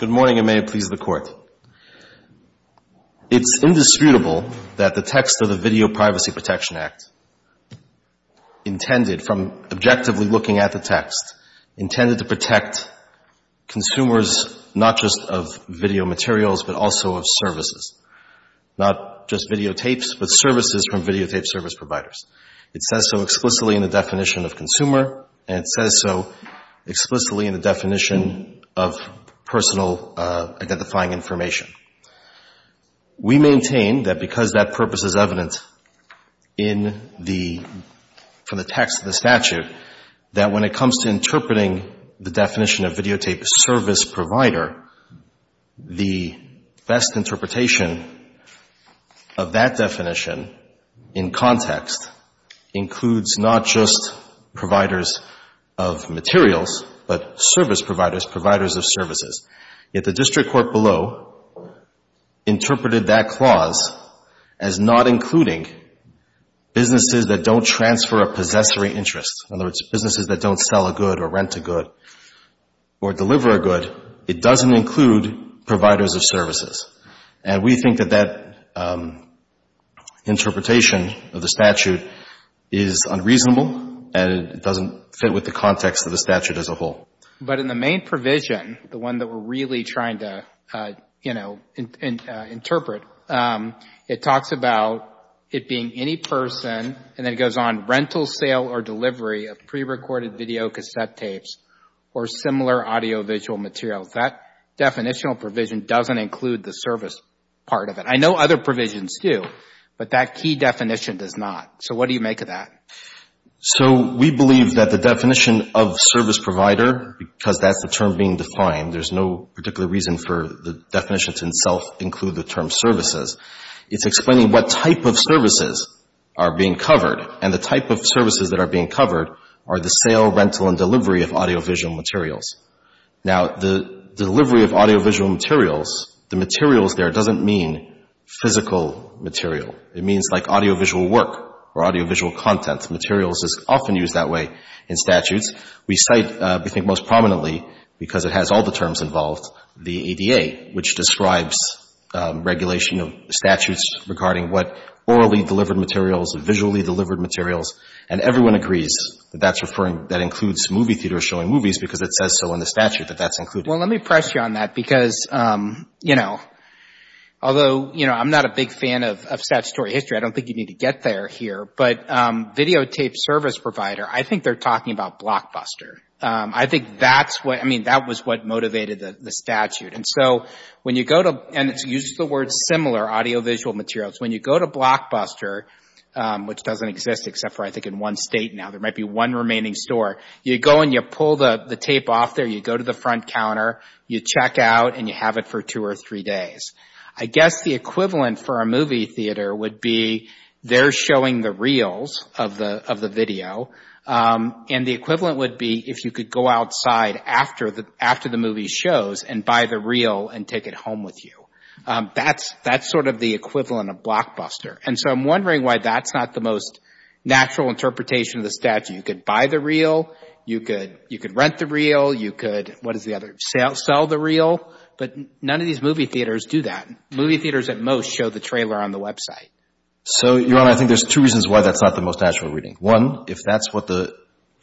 Good morning, and may it please the Court. It's indisputable that the text of the Video Privacy Protection Act intended, from objectively looking at the text, intended to protect consumers not just of video materials but also of services, not just videotapes but services from videotape service providers. It says so explicitly in the definition of consumer, and it says so explicitly in the definition of personal identifying information. We maintain that because that purpose is evident in the, from the text of the statute, that when it comes to interpreting the definition of videotape service provider, the best interpretation of that definition in context includes not just providers of materials but service providers, providers of services. Yet the district court below interpreted that clause as not including businesses that don't transfer a possessory interest, in other words, businesses that don't sell a good or rent a good or deliver a good. It doesn't include providers of services. And we think that that interpretation of the statute is unreasonable and it doesn't fit with the context of the statute as a whole. But in the main provision, the one that we're really trying to, you know, interpret, it talks about it being any person, and then it goes on, rental, sale or delivery of pre-recorded videocassette tapes or similar audiovisual materials. That definitional provision doesn't include the service part of it. I know other provisions do, but that key definition does not. So what do you make of that? So we believe that the definition of service provider, because that's the term being defined, there's no particular reason for the definition to itself include the term services. It's explaining what type of services are being covered, and the type of services that are being covered are the sale, rental and delivery of audiovisual materials. Now, the delivery of audiovisual materials, the materials there doesn't mean physical material. It means like audiovisual work or audiovisual content. Materials is often used that way in statutes. We cite, we think most prominently, because it has all the terms involved, the ADA, which describes regulation of statutes regarding what orally delivered materials, visually delivered materials, and everyone agrees that that's referring, that includes movie theaters showing movies because it says so in the statute that that's included. Well, let me press you on that because, you know, although, you know, I'm not a big fan of statutory history. I don't think you need to get there here. But videotape service provider, I think they're talking about Blockbuster. I think that's what, I mean, that was what motivated the statute. And so when you go to, and it uses the word similar, audiovisual materials, when you go to Blockbuster, which doesn't exist except for I think in one state now, there might be one remaining store, you go and you pull the tape off there, you go to the front counter, you check out, and you have it for two or three days. I guess the equivalent for a movie theater would be they're showing the reels of the video. And the equivalent would be if you could go outside after the movie shows and buy the reel and take it home with you. That's sort of the equivalent of Blockbuster. And so I'm wondering why that's not the most natural interpretation of the statute. You could buy the reel. You could rent the reel. You could, what is the other, sell the reel. But none of these movie theaters do that. Movie theaters at most show the trailer on the website. So, Your Honor, I think there's two reasons why that's not the most natural reading. One, if that's what the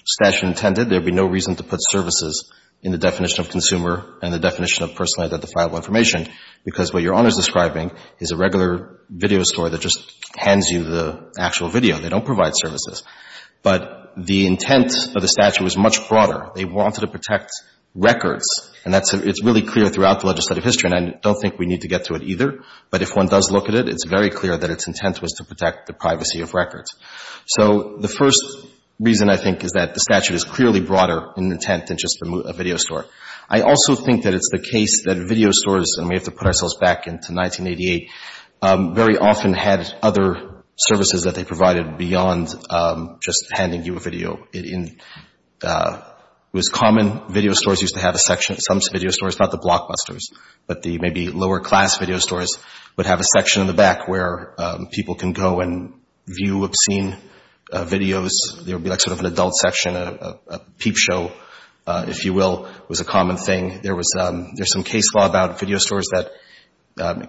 statute intended, there would be no reason to put services in the definition of consumer and the definition of personally identifiable information, because what Your Honor is describing is a regular video store that just hands you the actual video. They don't provide services. But the intent of the statute was much broader. They wanted to protect records. And that's, it's really clear throughout the legislative history, and I don't think we need to get to it either, but if one does look at it, it's very clear that its intent was to protect the privacy of records. So the first reason, I think, is that the statute is clearly broader in intent than just a video store. I also think that it's the case that video stores, and we have to put ourselves back into 1988, very often had other services that they provided beyond just handing you a video. It was common, video stores used to have a section, some upper-class video stores would have a section in the back where people can go and view obscene videos. There would be like sort of an adult section, a peep show, if you will, was a common thing. There was, there's some case law about video stores that,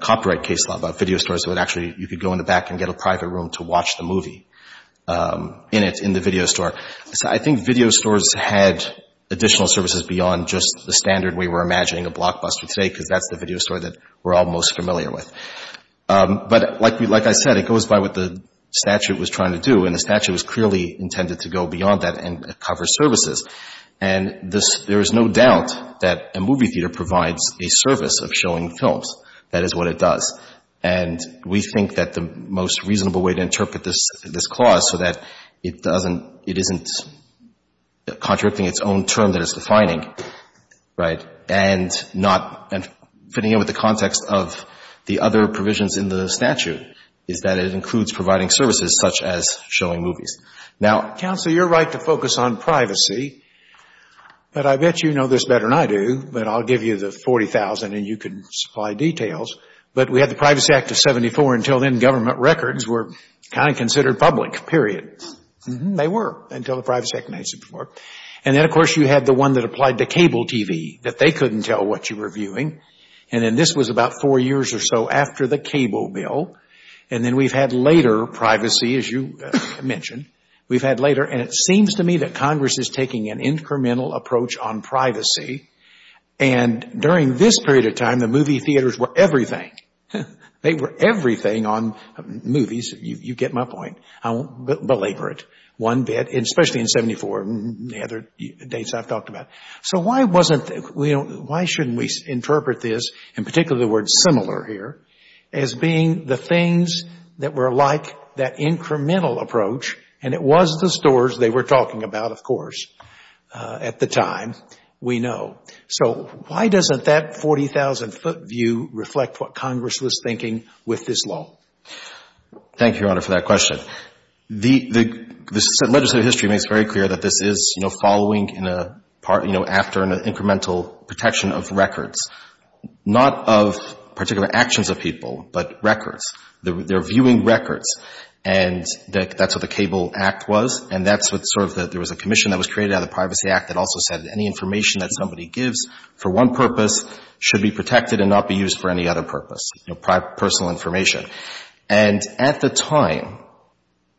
copyright case law about video stores that would actually, you could go in the back and get a private room to watch the movie in it, in the video store. So I think video stores had additional services beyond just the standard we were all most familiar with. But like I said, it goes by what the statute was trying to do, and the statute was clearly intended to go beyond that and cover services. And there is no doubt that a movie theater provides a service of showing films. That is what it does. And we think that the most reasonable way to interpret this clause so that it doesn't, it isn't contradicting its own term that it's other provisions in the statute is that it includes providing services such as showing movies. Now, counsel, you're right to focus on privacy, but I bet you know this better than I do, but I'll give you the $40,000 and you can supply details. But we had the Privacy Act of 74. Until then, government records were kind of considered public, period. They were until the Privacy Act of 94. And then, of course, you had the one that applied to cable TV, that they couldn't tell what you were viewing. And then this was about four years or so after the cable bill. And then we've had later privacy, as you mentioned. We've had later, and it seems to me that Congress is taking an incremental approach on privacy. And during this period of time, the movie theaters were everything. They were everything on movies. You get my point. I won't belabor it one bit, especially in 74 and the other dates I've talked about. So why wasn't we, why shouldn't we interpret this, in particular the word similar here, as being the things that were like that incremental approach, and it was the stores they were talking about, of course, at the time, we know. So why doesn't that 40,000-foot view reflect what Congress was thinking with this law? Thank you, Your Honor, for that question. The legislative history makes very clear that this is, you know, following in a part, you know, after an incremental protection of records, not of particular actions of people, but records. They're viewing records. And that's what the Cable Act was. And that's what sort of the, there was a commission that was created out of the Privacy Act that also said any information that somebody gives for one purpose should be protected and not be used for any other purpose, you know, personal information. And at the time,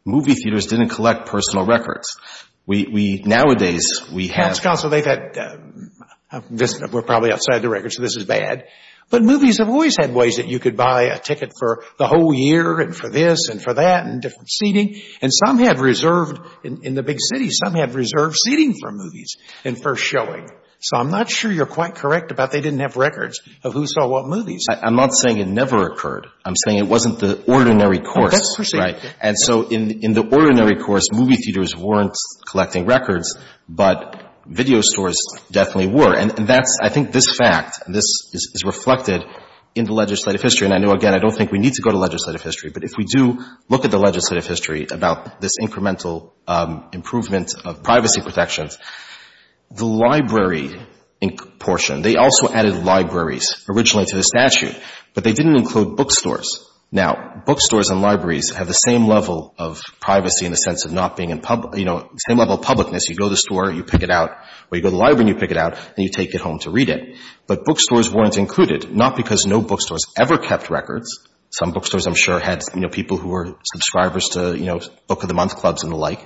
movie theaters didn't collect personal records. We, we, nowadays, we have. Counsel, they've had, we're probably outside the records, so this is bad. But movies have always had ways that you could buy a ticket for the whole year and for this and for that and different seating. And some have reserved, in the big cities, some have reserved seating for movies and for showing. So I'm not sure you're quite correct about they didn't have records of who saw what movies. I'm not saying it never occurred. I'm saying it wasn't the ordinary course, right? And so in, in the ordinary course, movie theaters weren't collecting records, but video stores definitely were. And that's, I think, this fact, this is reflected in the legislative history. And I know, again, I don't think we need to go to legislative history, but if we do look at the legislative history about this incremental improvement of privacy protections, the library portion, they also added libraries originally to the statute, but they didn't include bookstores. Now, bookstores and libraries have the same level of privacy in the sense of not being in public, you know, same level of publicness. You go to the store, you pick it out, or you go to the library and you pick it out, and you take it home to read it. But bookstores weren't included, not because no bookstores ever kept records. Some bookstores, I'm sure, had, you know, people who were subscribers to, you know, book of the month clubs and the like.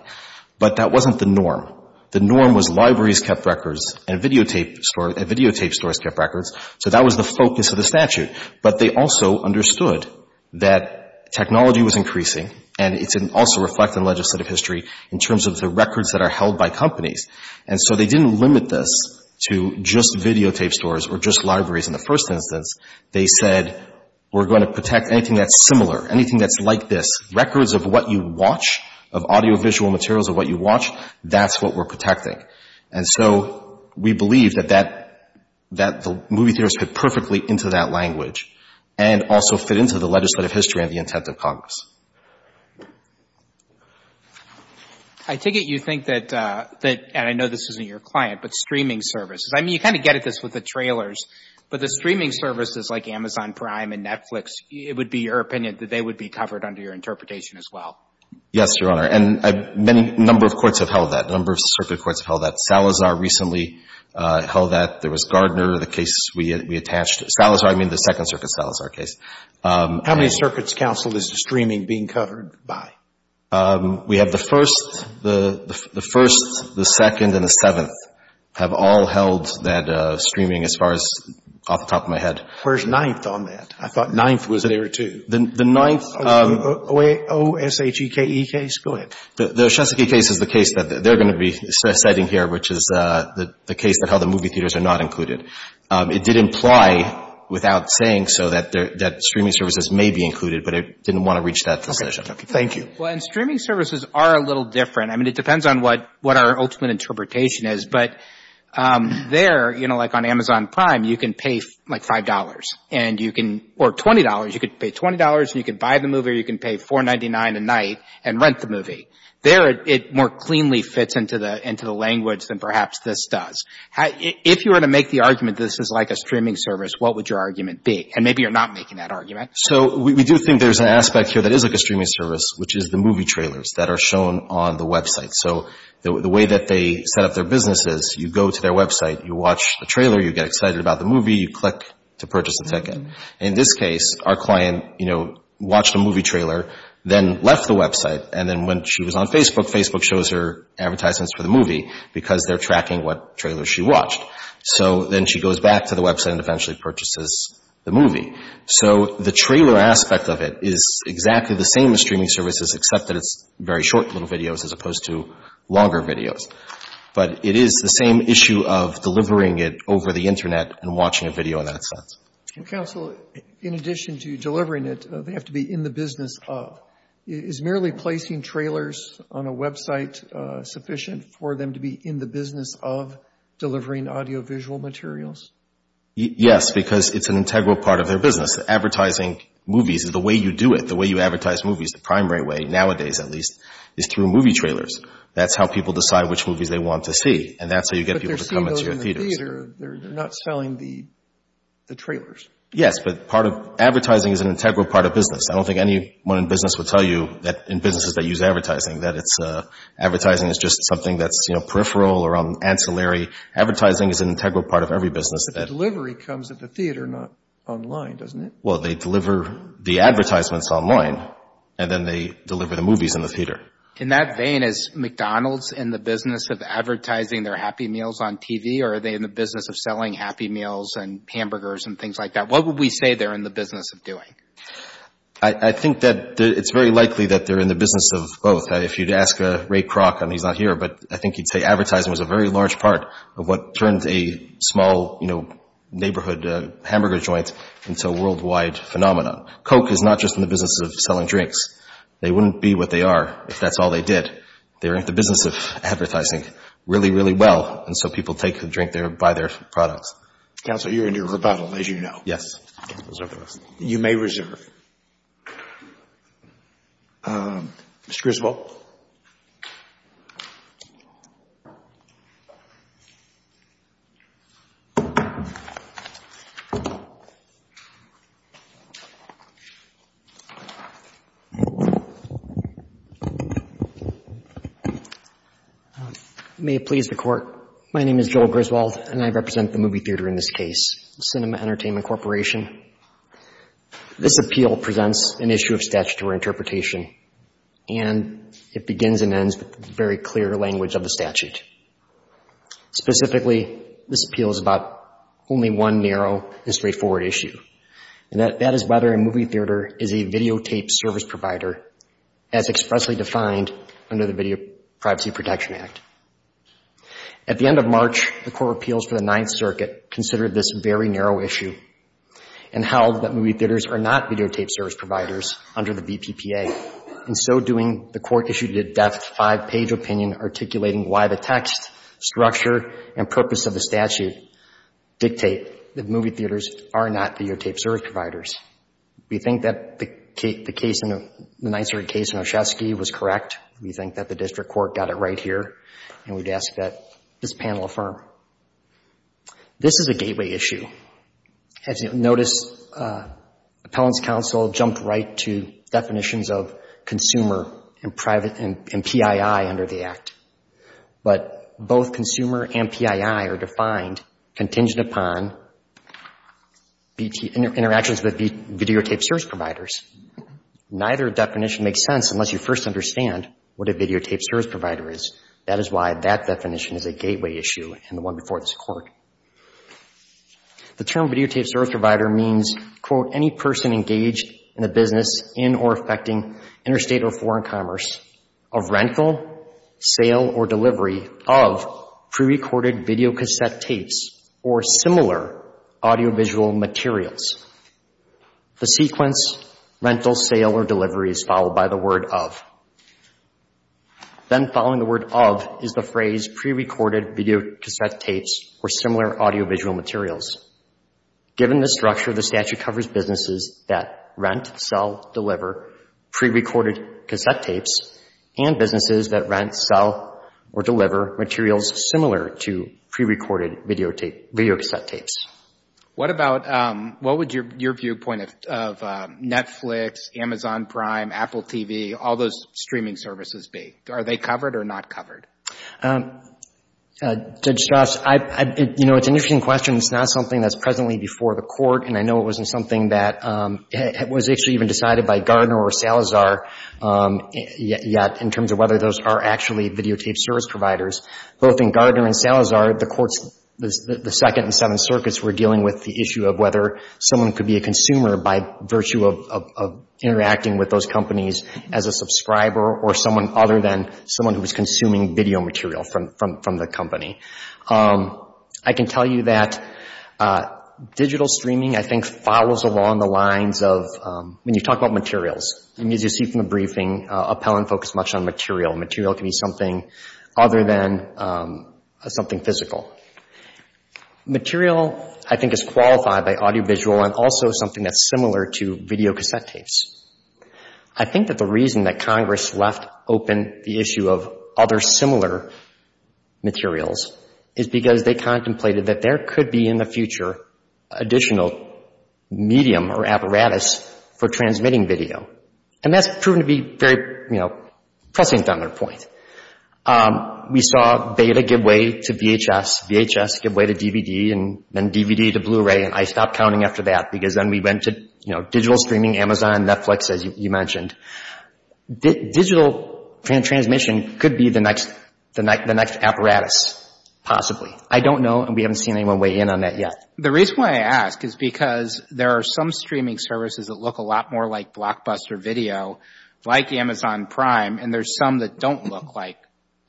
But that wasn't the norm. The norm was libraries kept records and videotape stores, videotape stores kept records. So that was the focus of the statute. But they also understood that technology was increasing, and it's also reflected in legislative history in terms of the records that are held by companies. And so they didn't limit this to just videotape stores or just libraries in the first instance. They said, we're going to protect anything that's similar, anything that's like this. Records of what you watch, of audiovisual materials of what you watch, that's what we're protecting. And so we believe that that, that the movie theaters fit perfectly into that language and also fit into the legislative history and the intent of Congress. I take it you think that, and I know this isn't your client, but streaming services, I mean, you kind of get at this with the trailers, but the streaming services like Amazon Prime and Netflix, it would be your opinion that they would be covered under your interpretation as well? Yes, Your Honor. And many, a number of courts have held that, a number of circuit courts have held that. Salazar recently held that. There was Gardner, the case we attached. Salazar, I mean, the Second Circuit Salazar case. How many circuits, counsel, is the streaming being covered by? We have the first, the first, the second, and the seventh have all held that streaming as far as off the top of my head. Where's ninth on that? I thought ninth was there too. The ninth O-S-H-E-K-E case? Go ahead. The Oshetski case is the case that they're going to be citing here, which is the case that held the movie theaters are not included. It did imply, without saying so, that streaming services may be included, but it didn't want to reach that decision. Thank you. Well, and streaming services are a little different. I mean, it depends on what our ultimate interpretation is. But there, you know, like on Amazon Prime, you can pay like $5 and you can, or $20, you could pay $20 and you could buy the movie or you can pay $4.99 a night and rent the movie. There, it more cleanly fits into the language than perhaps this does. If you were to make the argument this is like a streaming service, what would your argument be? And maybe you're not making that argument. So we do think there's an aspect here that is like a streaming service, which is the movie trailers that are shown on the website. So the way that they set up their business is you go to their website, you watch the trailer, you get excited about the movie, you click to purchase a ticket. In this case, our client, you know, watched a movie trailer, then left the website, and then when she was on Facebook, Facebook shows her advertisements for the movie because they're tracking what trailer she watched. So then she goes back to the streaming services, except that it's very short little videos as opposed to longer videos. But it is the same issue of delivering it over the Internet and watching a video in that sense. Counsel, in addition to delivering it, they have to be in the business of. Is merely placing trailers on a website sufficient for them to be in the business of delivering audiovisual materials? Yes, because it's an integral part of their business. Advertising movies is the way you do it, the way you advertise movies. The primary way, nowadays at least, is through movie trailers. That's how people decide which movies they want to see, and that's how you get people to come into your theaters. But they're seeing those in the theater. They're not selling the trailers. Yes, but advertising is an integral part of business. I don't think anyone in business would tell you that in businesses that use advertising that advertising is just something that's peripheral or ancillary. Advertising is an integral part of every business. But the delivery comes at the theater, not online, doesn't it? Well, they deliver the advertisements online, and then they deliver the movies in the theater. In that vein, is McDonald's in the business of advertising their Happy Meals on TV, or are they in the business of selling Happy Meals and hamburgers and things like that? What would we say they're in the business of doing? I think that it's very likely that they're in the business of both. If you'd ask Ray Kroc, and he's not here, but I think he'd say advertising was a very large part of what turned a small neighborhood hamburger joint into a worldwide phenomenon. Coke is not just in the business of selling drinks. They wouldn't be what they are if that's all they did. They're in the business of advertising really, really well, and so people take a drink there and buy their products. Counselor, you're going to do a rebuttal, as you know. Yes. You may reserve. Mr. Griswold. May it please the Court. My name is Joel Griswold, and I represent the movie theater in this case, Cinema Entertainment Corporation. This appeal presents an issue of statutory interpretation, and it begins and ends with very clear language of the statute. Specifically, this appeal is about only one narrow and straightforward issue, and that is whether a movie theater is a videotaped service provider as expressly defined under the Video Privacy Protection Act. At the end of March, the Court of Appeals for the Ninth Circuit considered this very narrow issue and held that movie theaters are not videotaped service providers under the VPPA, and so doing, the Court issued a deft five-page opinion articulating why the text, structure, and purpose of the statute dictate that movie theaters are not videotaped service providers. We think that the Ninth Circuit case in Oshetsky was correct. We think that the district court got it right here, and we'd ask that this panel affirm. This is a gateway issue. As you'll notice, Appellant's Counsel jumped right to definitions of consumer and private and PII under the Act, but both consumer and PII are defined contingent upon interactions with videotaped service providers. Neither definition makes sense unless you first understand what a videotaped service provider is. That is why that definition is a gateway issue and the one before this Court. The term videotaped service provider means, quote, any person engaged in a business in or affecting interstate or foreign commerce of rental, sale, or delivery of pre-recorded videocassette tapes or similar audiovisual materials. The sequence rental, sale, or delivery of pre-recorded videocassette tapes or similar audiovisual materials. Given the structure, the statute covers businesses that rent, sell, deliver pre-recorded cassette tapes and businesses that rent, sell, or deliver materials similar to pre-recorded videotape, videocassette tapes. What about, what would your viewpoint of Netflix, Amazon Prime, Apple TV, all those streaming services be? Are they covered or not covered? Judge Strauss, you know, it's an interesting question. It's not something that's presently before the Court, and I know it wasn't something that was actually even decided by Gardner or Salazar yet in terms of whether those are actually videotaped service providers. Both in Gardner and Salazar, the courts, the Second and Seventh Districts, they don't cover consumers by virtue of interacting with those companies as a subscriber or someone other than someone who is consuming video material from the company. I can tell you that digital streaming, I think, follows along the lines of, when you talk about materials, as you see from the briefing, Appellant focused much on audiovisual. Material, I think, is qualified by audiovisual and also something that's similar to videocassette tapes. I think that the reason that Congress left open the issue of other similar materials is because they contemplated that there could be in the future additional medium or apparatus for transmitting video, and that's proven to be very, you know, pressing on their point. We saw Beta give way to VHS, VHS give way to DVD, and then DVD to Blu-ray, and I stopped counting after that because then we went to, you know, digital streaming, Amazon, Netflix, as you mentioned. Digital transmission could be the next apparatus, possibly. I don't know, and we haven't seen anyone weigh in on that yet. The reason why I ask is because there are some streaming services that look a lot more like Blockbuster Video, like Amazon Prime, and there's some that don't look like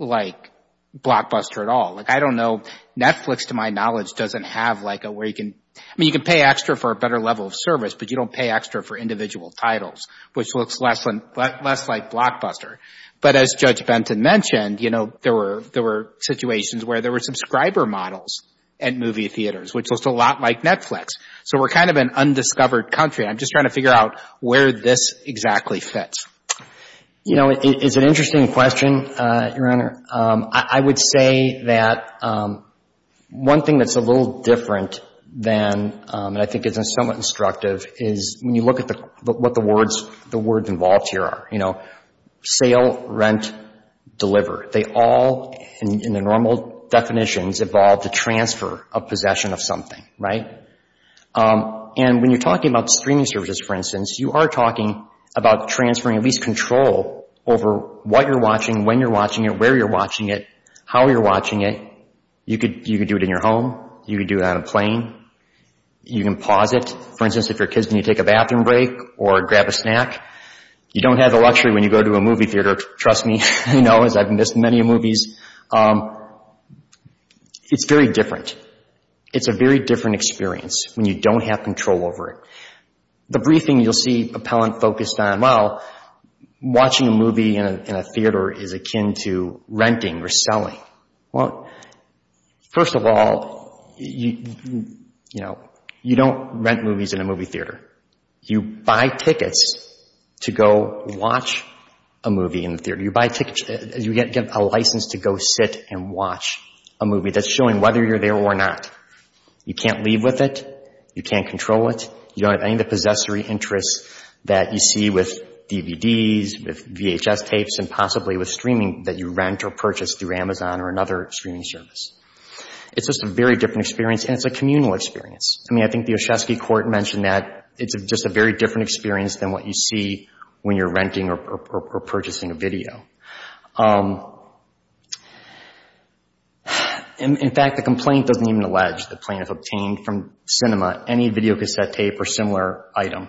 Blockbuster at all. Like, I don't know, Netflix, to my knowledge, doesn't have like a, where you can, I mean, you can pay extra for a better level of service, but you don't pay extra for individual titles, which looks less like Blockbuster. But as Judge Benton mentioned, you know, there were situations where there were subscriber models at movie theaters, which looked a lot like Netflix. So we're kind of an undiscovered country. I'm just trying to figure out where this exactly fits. You know, it's an interesting question, Your Honor. I would say that one thing that's a little different than, and I think is somewhat instructive, is when you look at the, what the words, the words involved here are, you know, sale, rent, deliver. They all, in their normal definitions, involve the transfer of possession of something, right? And when you're talking about streaming services, for instance, you are talking about transferring at least control over what you're watching, when you're watching it, where you're watching it, how you're watching it. You could do it in your home. You could do it on a plane. You can pause it. For instance, if you don't have the luxury, when you go to a movie theater, trust me, you know, as I've missed many movies, it's very different. It's a very different experience when you don't have control over it. The briefing you'll see appellant focused on, well, watching a movie in a theater is akin to renting or selling. Well, first of all, you know, you don't rent movies in a movie theater. You buy tickets to go watch a movie in the theater. You buy tickets, you get a license to go sit and watch a movie that's showing whether you're there or not. You can't leave with it. You can't control it. You don't have any of the possessory interests that you see with DVDs, with VHS tapes, and possibly with streaming that you rent or purchase through Amazon or another streaming service. It's just a very different experience, and it's a communal experience. I mean, I think the Oshetsky court mentioned that it's just a very different experience than what you see when you're renting or purchasing a video. In fact, the complaint doesn't even allege the plaintiff obtained from Cinema any videocassette tape or similar item.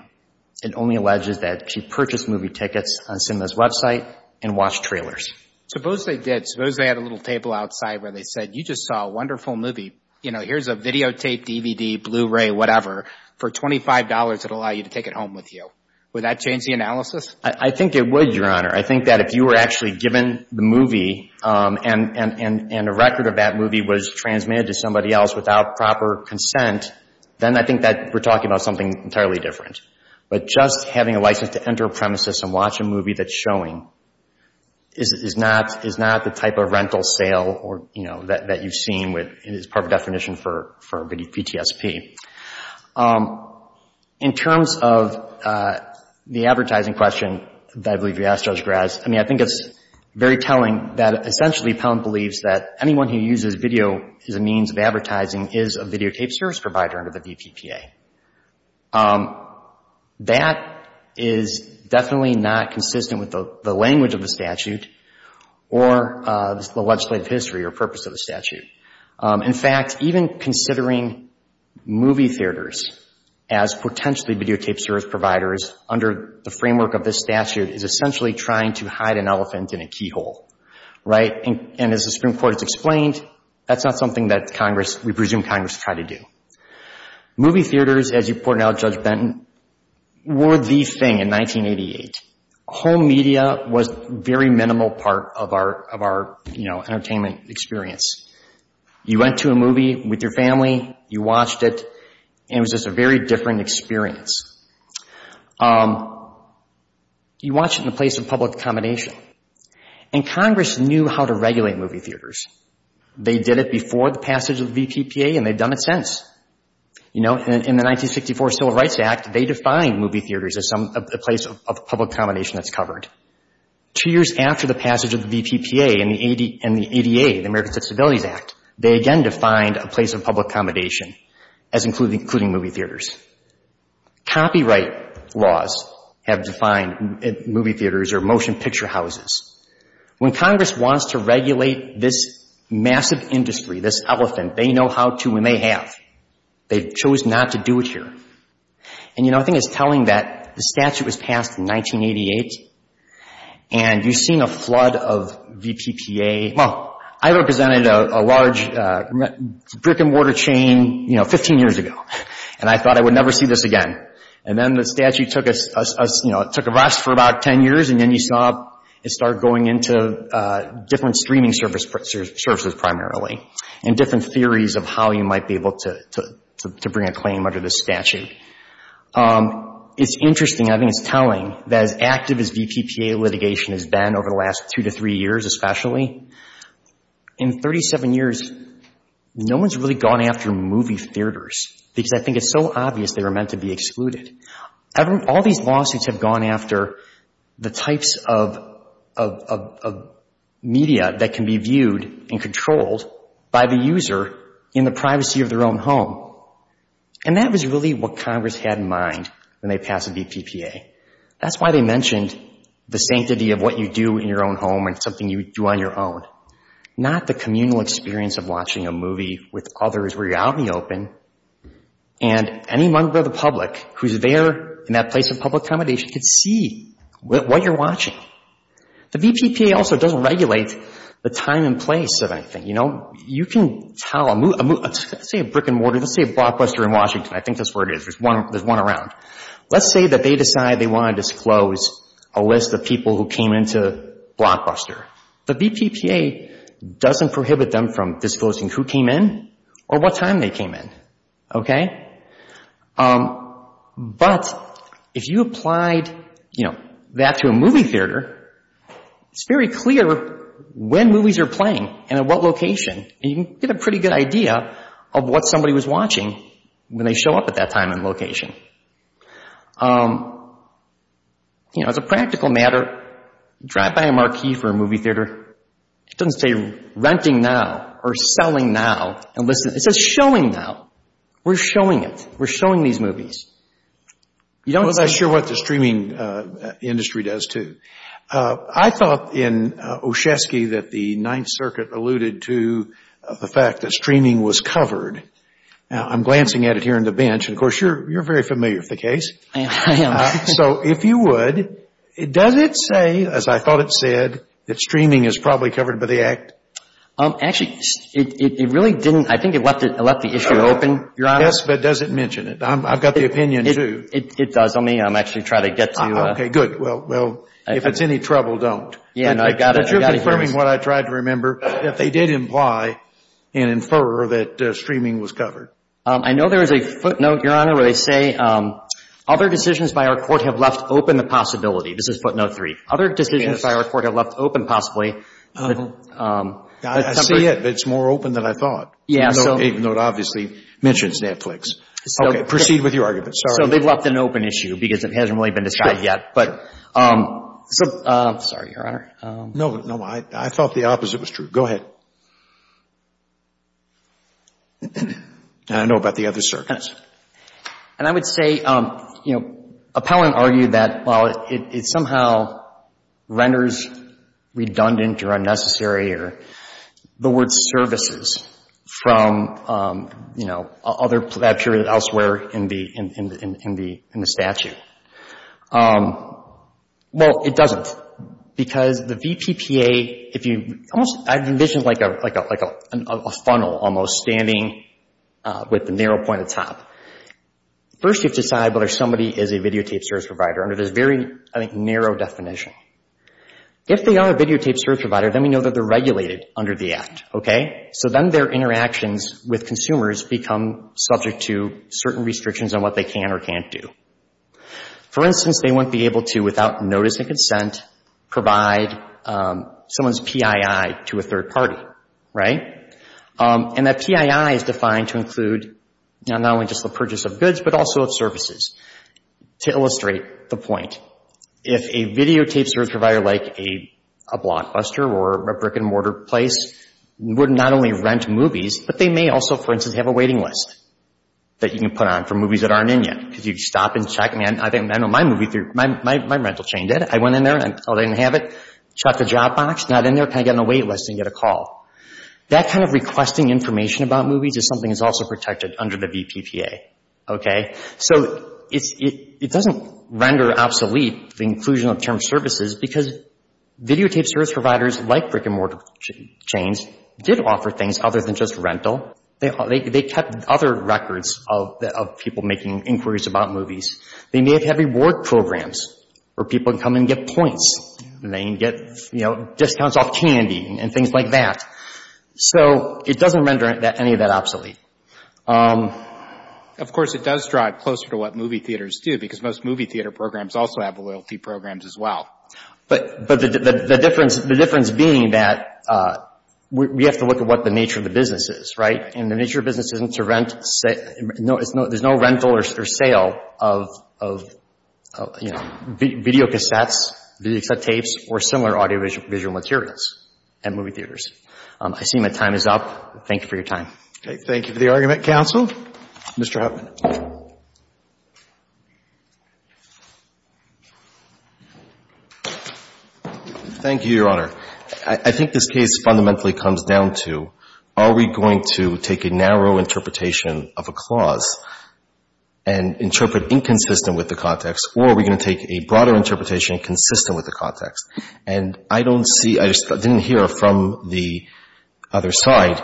It only alleges that she purchased movie tickets on Cinema's website and watched trailers. Suppose they did. Suppose they had a little table outside where they said, you just saw a wonderful movie. You know, here's a videotape, DVD, Blu-ray, whatever, for $25 that will allow you to take it home with you. Would that change the analysis? I think it would, Your Honor. I think that if you were actually given the movie and a record of that movie was transmitted to somebody else without proper consent, then I think that we're talking about something entirely different. But just having a license to enter a premises and watch a movie that's showing is not the type of rental sale that you've seen is part of the definition for VTSP. In terms of the advertising question that I believe you asked, Judge Graz, I mean, I think it's very telling that essentially Pound believes that anyone who uses video as a means of advertising is a videotape service provider under the VPPA. That is definitely not consistent with the language of the statute or the legislative history or purpose of the statute. In fact, even considering movie theaters as potentially videotape service providers under the framework of this statute is essentially trying to hide an elephant in a keyhole. That's not something that we presume Congress tried to do. Movie theaters, as you pointed out, Judge Benton, were the thing in 1988. Home media was a very minimal part of our entertainment experience. You went to a movie with your family, you watched it, and it was just a very different experience. You watch it in a place of public accommodation, and Congress knew how to regulate movie theaters. They did it before the passage of the VPPA, and they've done it since. In the 1964 Civil Rights Act, they defined movie theaters as a place of public accommodation that's covered. Two years after the passage of the VPPA and the ADA, the American Citizens Act, they again defined a place of public accommodation as including movie theaters. Copyright laws have defined movie theaters or motion picture houses. When Congress wants to regulate this massive industry, this elephant, they know how to and they have. They chose not to do it here. And, you know, I think it's telling that the statute was passed in 1988, and you've seen a flood of VPPA. Well, I represented a large brick-and-mortar chain, you know, 15 years ago, and I thought I would never see this again. And then the statute took us, you know, it took a rest for about 10 years, and then you saw it start going into different streaming services primarily, and different theories of how you might be able to bring a claim under this statute. It's interesting, I think it's telling, that as active as VPPA litigation has been over the last two to three years especially, in 37 years, no one's really gone after movie theaters, because I think it's so obvious they were meant to be excluded. All these lawsuits have gone after the types of media that can be viewed and controlled by the user in the privacy of their own home. And that was really what Congress had in mind when they passed the VPPA. That's why they mentioned the sanctity of what you do in your own home and something you do on your own, not the communal experience of watching a movie with others where you're out in the open, and any member of the public who's there in that place of public accommodation can see what you're watching. The VPPA also doesn't regulate the time and place of anything. Let's say a brick and mortar, let's say a blockbuster in Washington, I think that's where it is, there's one around. Let's say that they decide they want to disclose a list of people who came into the blockbuster. The VPPA doesn't prohibit them from disclosing who came in or what time they came in. But if you applied that to a movie theater, it's very clear when movies are playing and at what location, and you can get a pretty good idea of what somebody was watching when they show up at that time and location. As a practical matter, drive by a marquee for a movie theater. It doesn't say renting now or selling now. It says showing now. We're showing it. We're showing these movies. Well, that's sure what the streaming industry does, too. I thought in Oshetsky that the Ninth Circuit alluded to the fact that streaming was covered. Now, I'm glancing at it here on the bench, and of course, you're very familiar with the case. So if you would, does it say, as I thought it said, that streaming is probably covered by the Act? Actually, it really didn't. I think it left the issue open, Your Honor. Yes, but does it mention it? I've got the opinion, too. It does. Let me actually try to get to you. Okay, good. Well, if it's any trouble, don't. But you're confirming what I tried to remember. If they did imply and infer that streaming was covered. I know there is a footnote, Your Honor, where they say other decisions by our court have left open the possibility. This is footnote three. I see it, but it's more open than I thought, even though it obviously mentions Netflix. Okay. Proceed with your argument. Sorry. So they've left an open issue because it hasn't really been decided yet. Sorry, Your Honor. No, I thought the opposite was true. Go ahead. I know about the other circuits. And I would say, you know, appellant argued that, well, it somehow renders redundant or unnecessary or the word services from, you know, that period elsewhere in the statute. Well, it doesn't, because the VPPA, if you almost, I envision like a funnel almost standing with the narrow point at the top. First, you have to decide whether somebody is a videotape service provider under this very, I think, narrow definition. If they are a videotape service provider, then we know that they're regulated under the act, okay? So then their interactions with consumers become subject to certain restrictions on what they can or can't do. For instance, they won't be able to, without notice and consent, provide someone's PII to a third party, right? And that PII is defined to include not only just the purchase of goods, but also of services. To illustrate the point, if a videotape service provider like a blockbuster or a brick-and-mortar place would not only rent movies, but they may also, for instance, have a waiting list that you can put on for movies that aren't in yet. Because you'd stop and check, I know my movie theater, my rental chain did it. I went in there, I told them I didn't have it, checked the job box, not in there, kind of get on the wait list and get a call. That kind of requesting information about movies is something that's also protected under the VPPA, okay? So it doesn't render obsolete the inclusion of term services because videotape service providers like brick-and-mortar chains did offer things other than just rental. They kept other records of people making inquiries about movies. They may have reward programs where people can come and get points and they can get, you know, discounts off candy and things like that. So it doesn't render any of that obsolete. Of course, it does drive closer to what movie theaters do because most movie theater programs also have loyalty programs as well. But the difference being that we have to look at what the nature of the business is, right? And the nature of the business isn't to rent, there's no rental or sale of, you know, videocassettes, videotapes or similar audiovisual materials at movie theaters. I see my time is up. Thank you for your time. Okay. Thank you for the argument, counsel. Mr. Huffman. Thank you, Your Honor. I think this case fundamentally comes down to are we going to take a narrow interpretation of a clause and interpret inconsistent with the context, or are we going to take a broader interpretation consistent with the context? And I don't see, I just didn't hear from the other side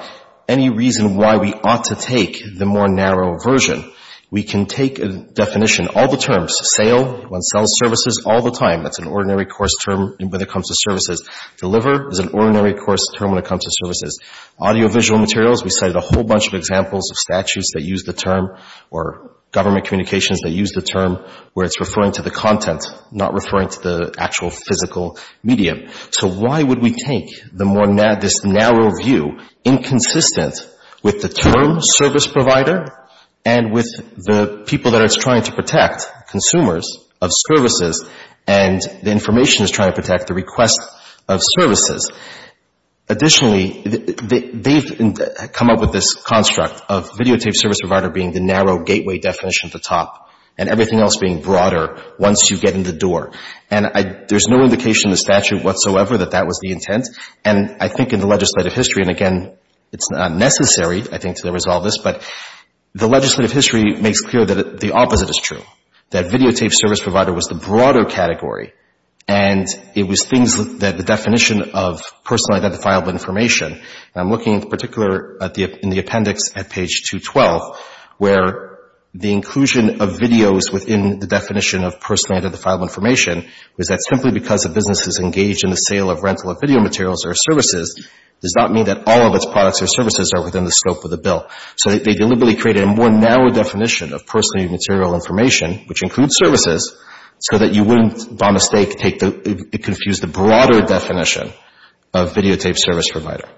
any reason why we ought to take the more narrow version. We can take a definition, all the terms, sale, one sells services all the time. That's an ordinary course term when it comes to services. Deliver is an ordinary course term when it comes to services. Audiovisual materials, we cited a whole bunch of examples of statutes that use the term, or government communications that use the term where it's referring to the content, not referring to the actual physical medium. So why would we take this narrow view inconsistent with the term service provider and with the people that it's trying to protect, consumers of services, and the information it's trying to protect, the request of services? Additionally, they've come up with this construct of videotape service provider being the narrow gateway definition at the top and everything else being broader once you get in the door. And there's no indication in the statute whatsoever that that was the intent. And I think in the legislative history, and again, it's not necessary, I think, to resolve this, but the legislative history makes clear that the opposite is true, that videotape service provider was the broader category, and it was things that the definition of personally identifiable information, and I'm looking in particular in the appendix at page 212, where the inclusion of videos within the definition of personally identifiable information was that simply because a business is engaged in the sale of rental of video materials or services does not mean that all of its products or services are within the scope of the bill. So they deliberately created a more narrow definition of personally material information, which includes services, so that you wouldn't, by mistake, confuse the broader definition of videotape service provider.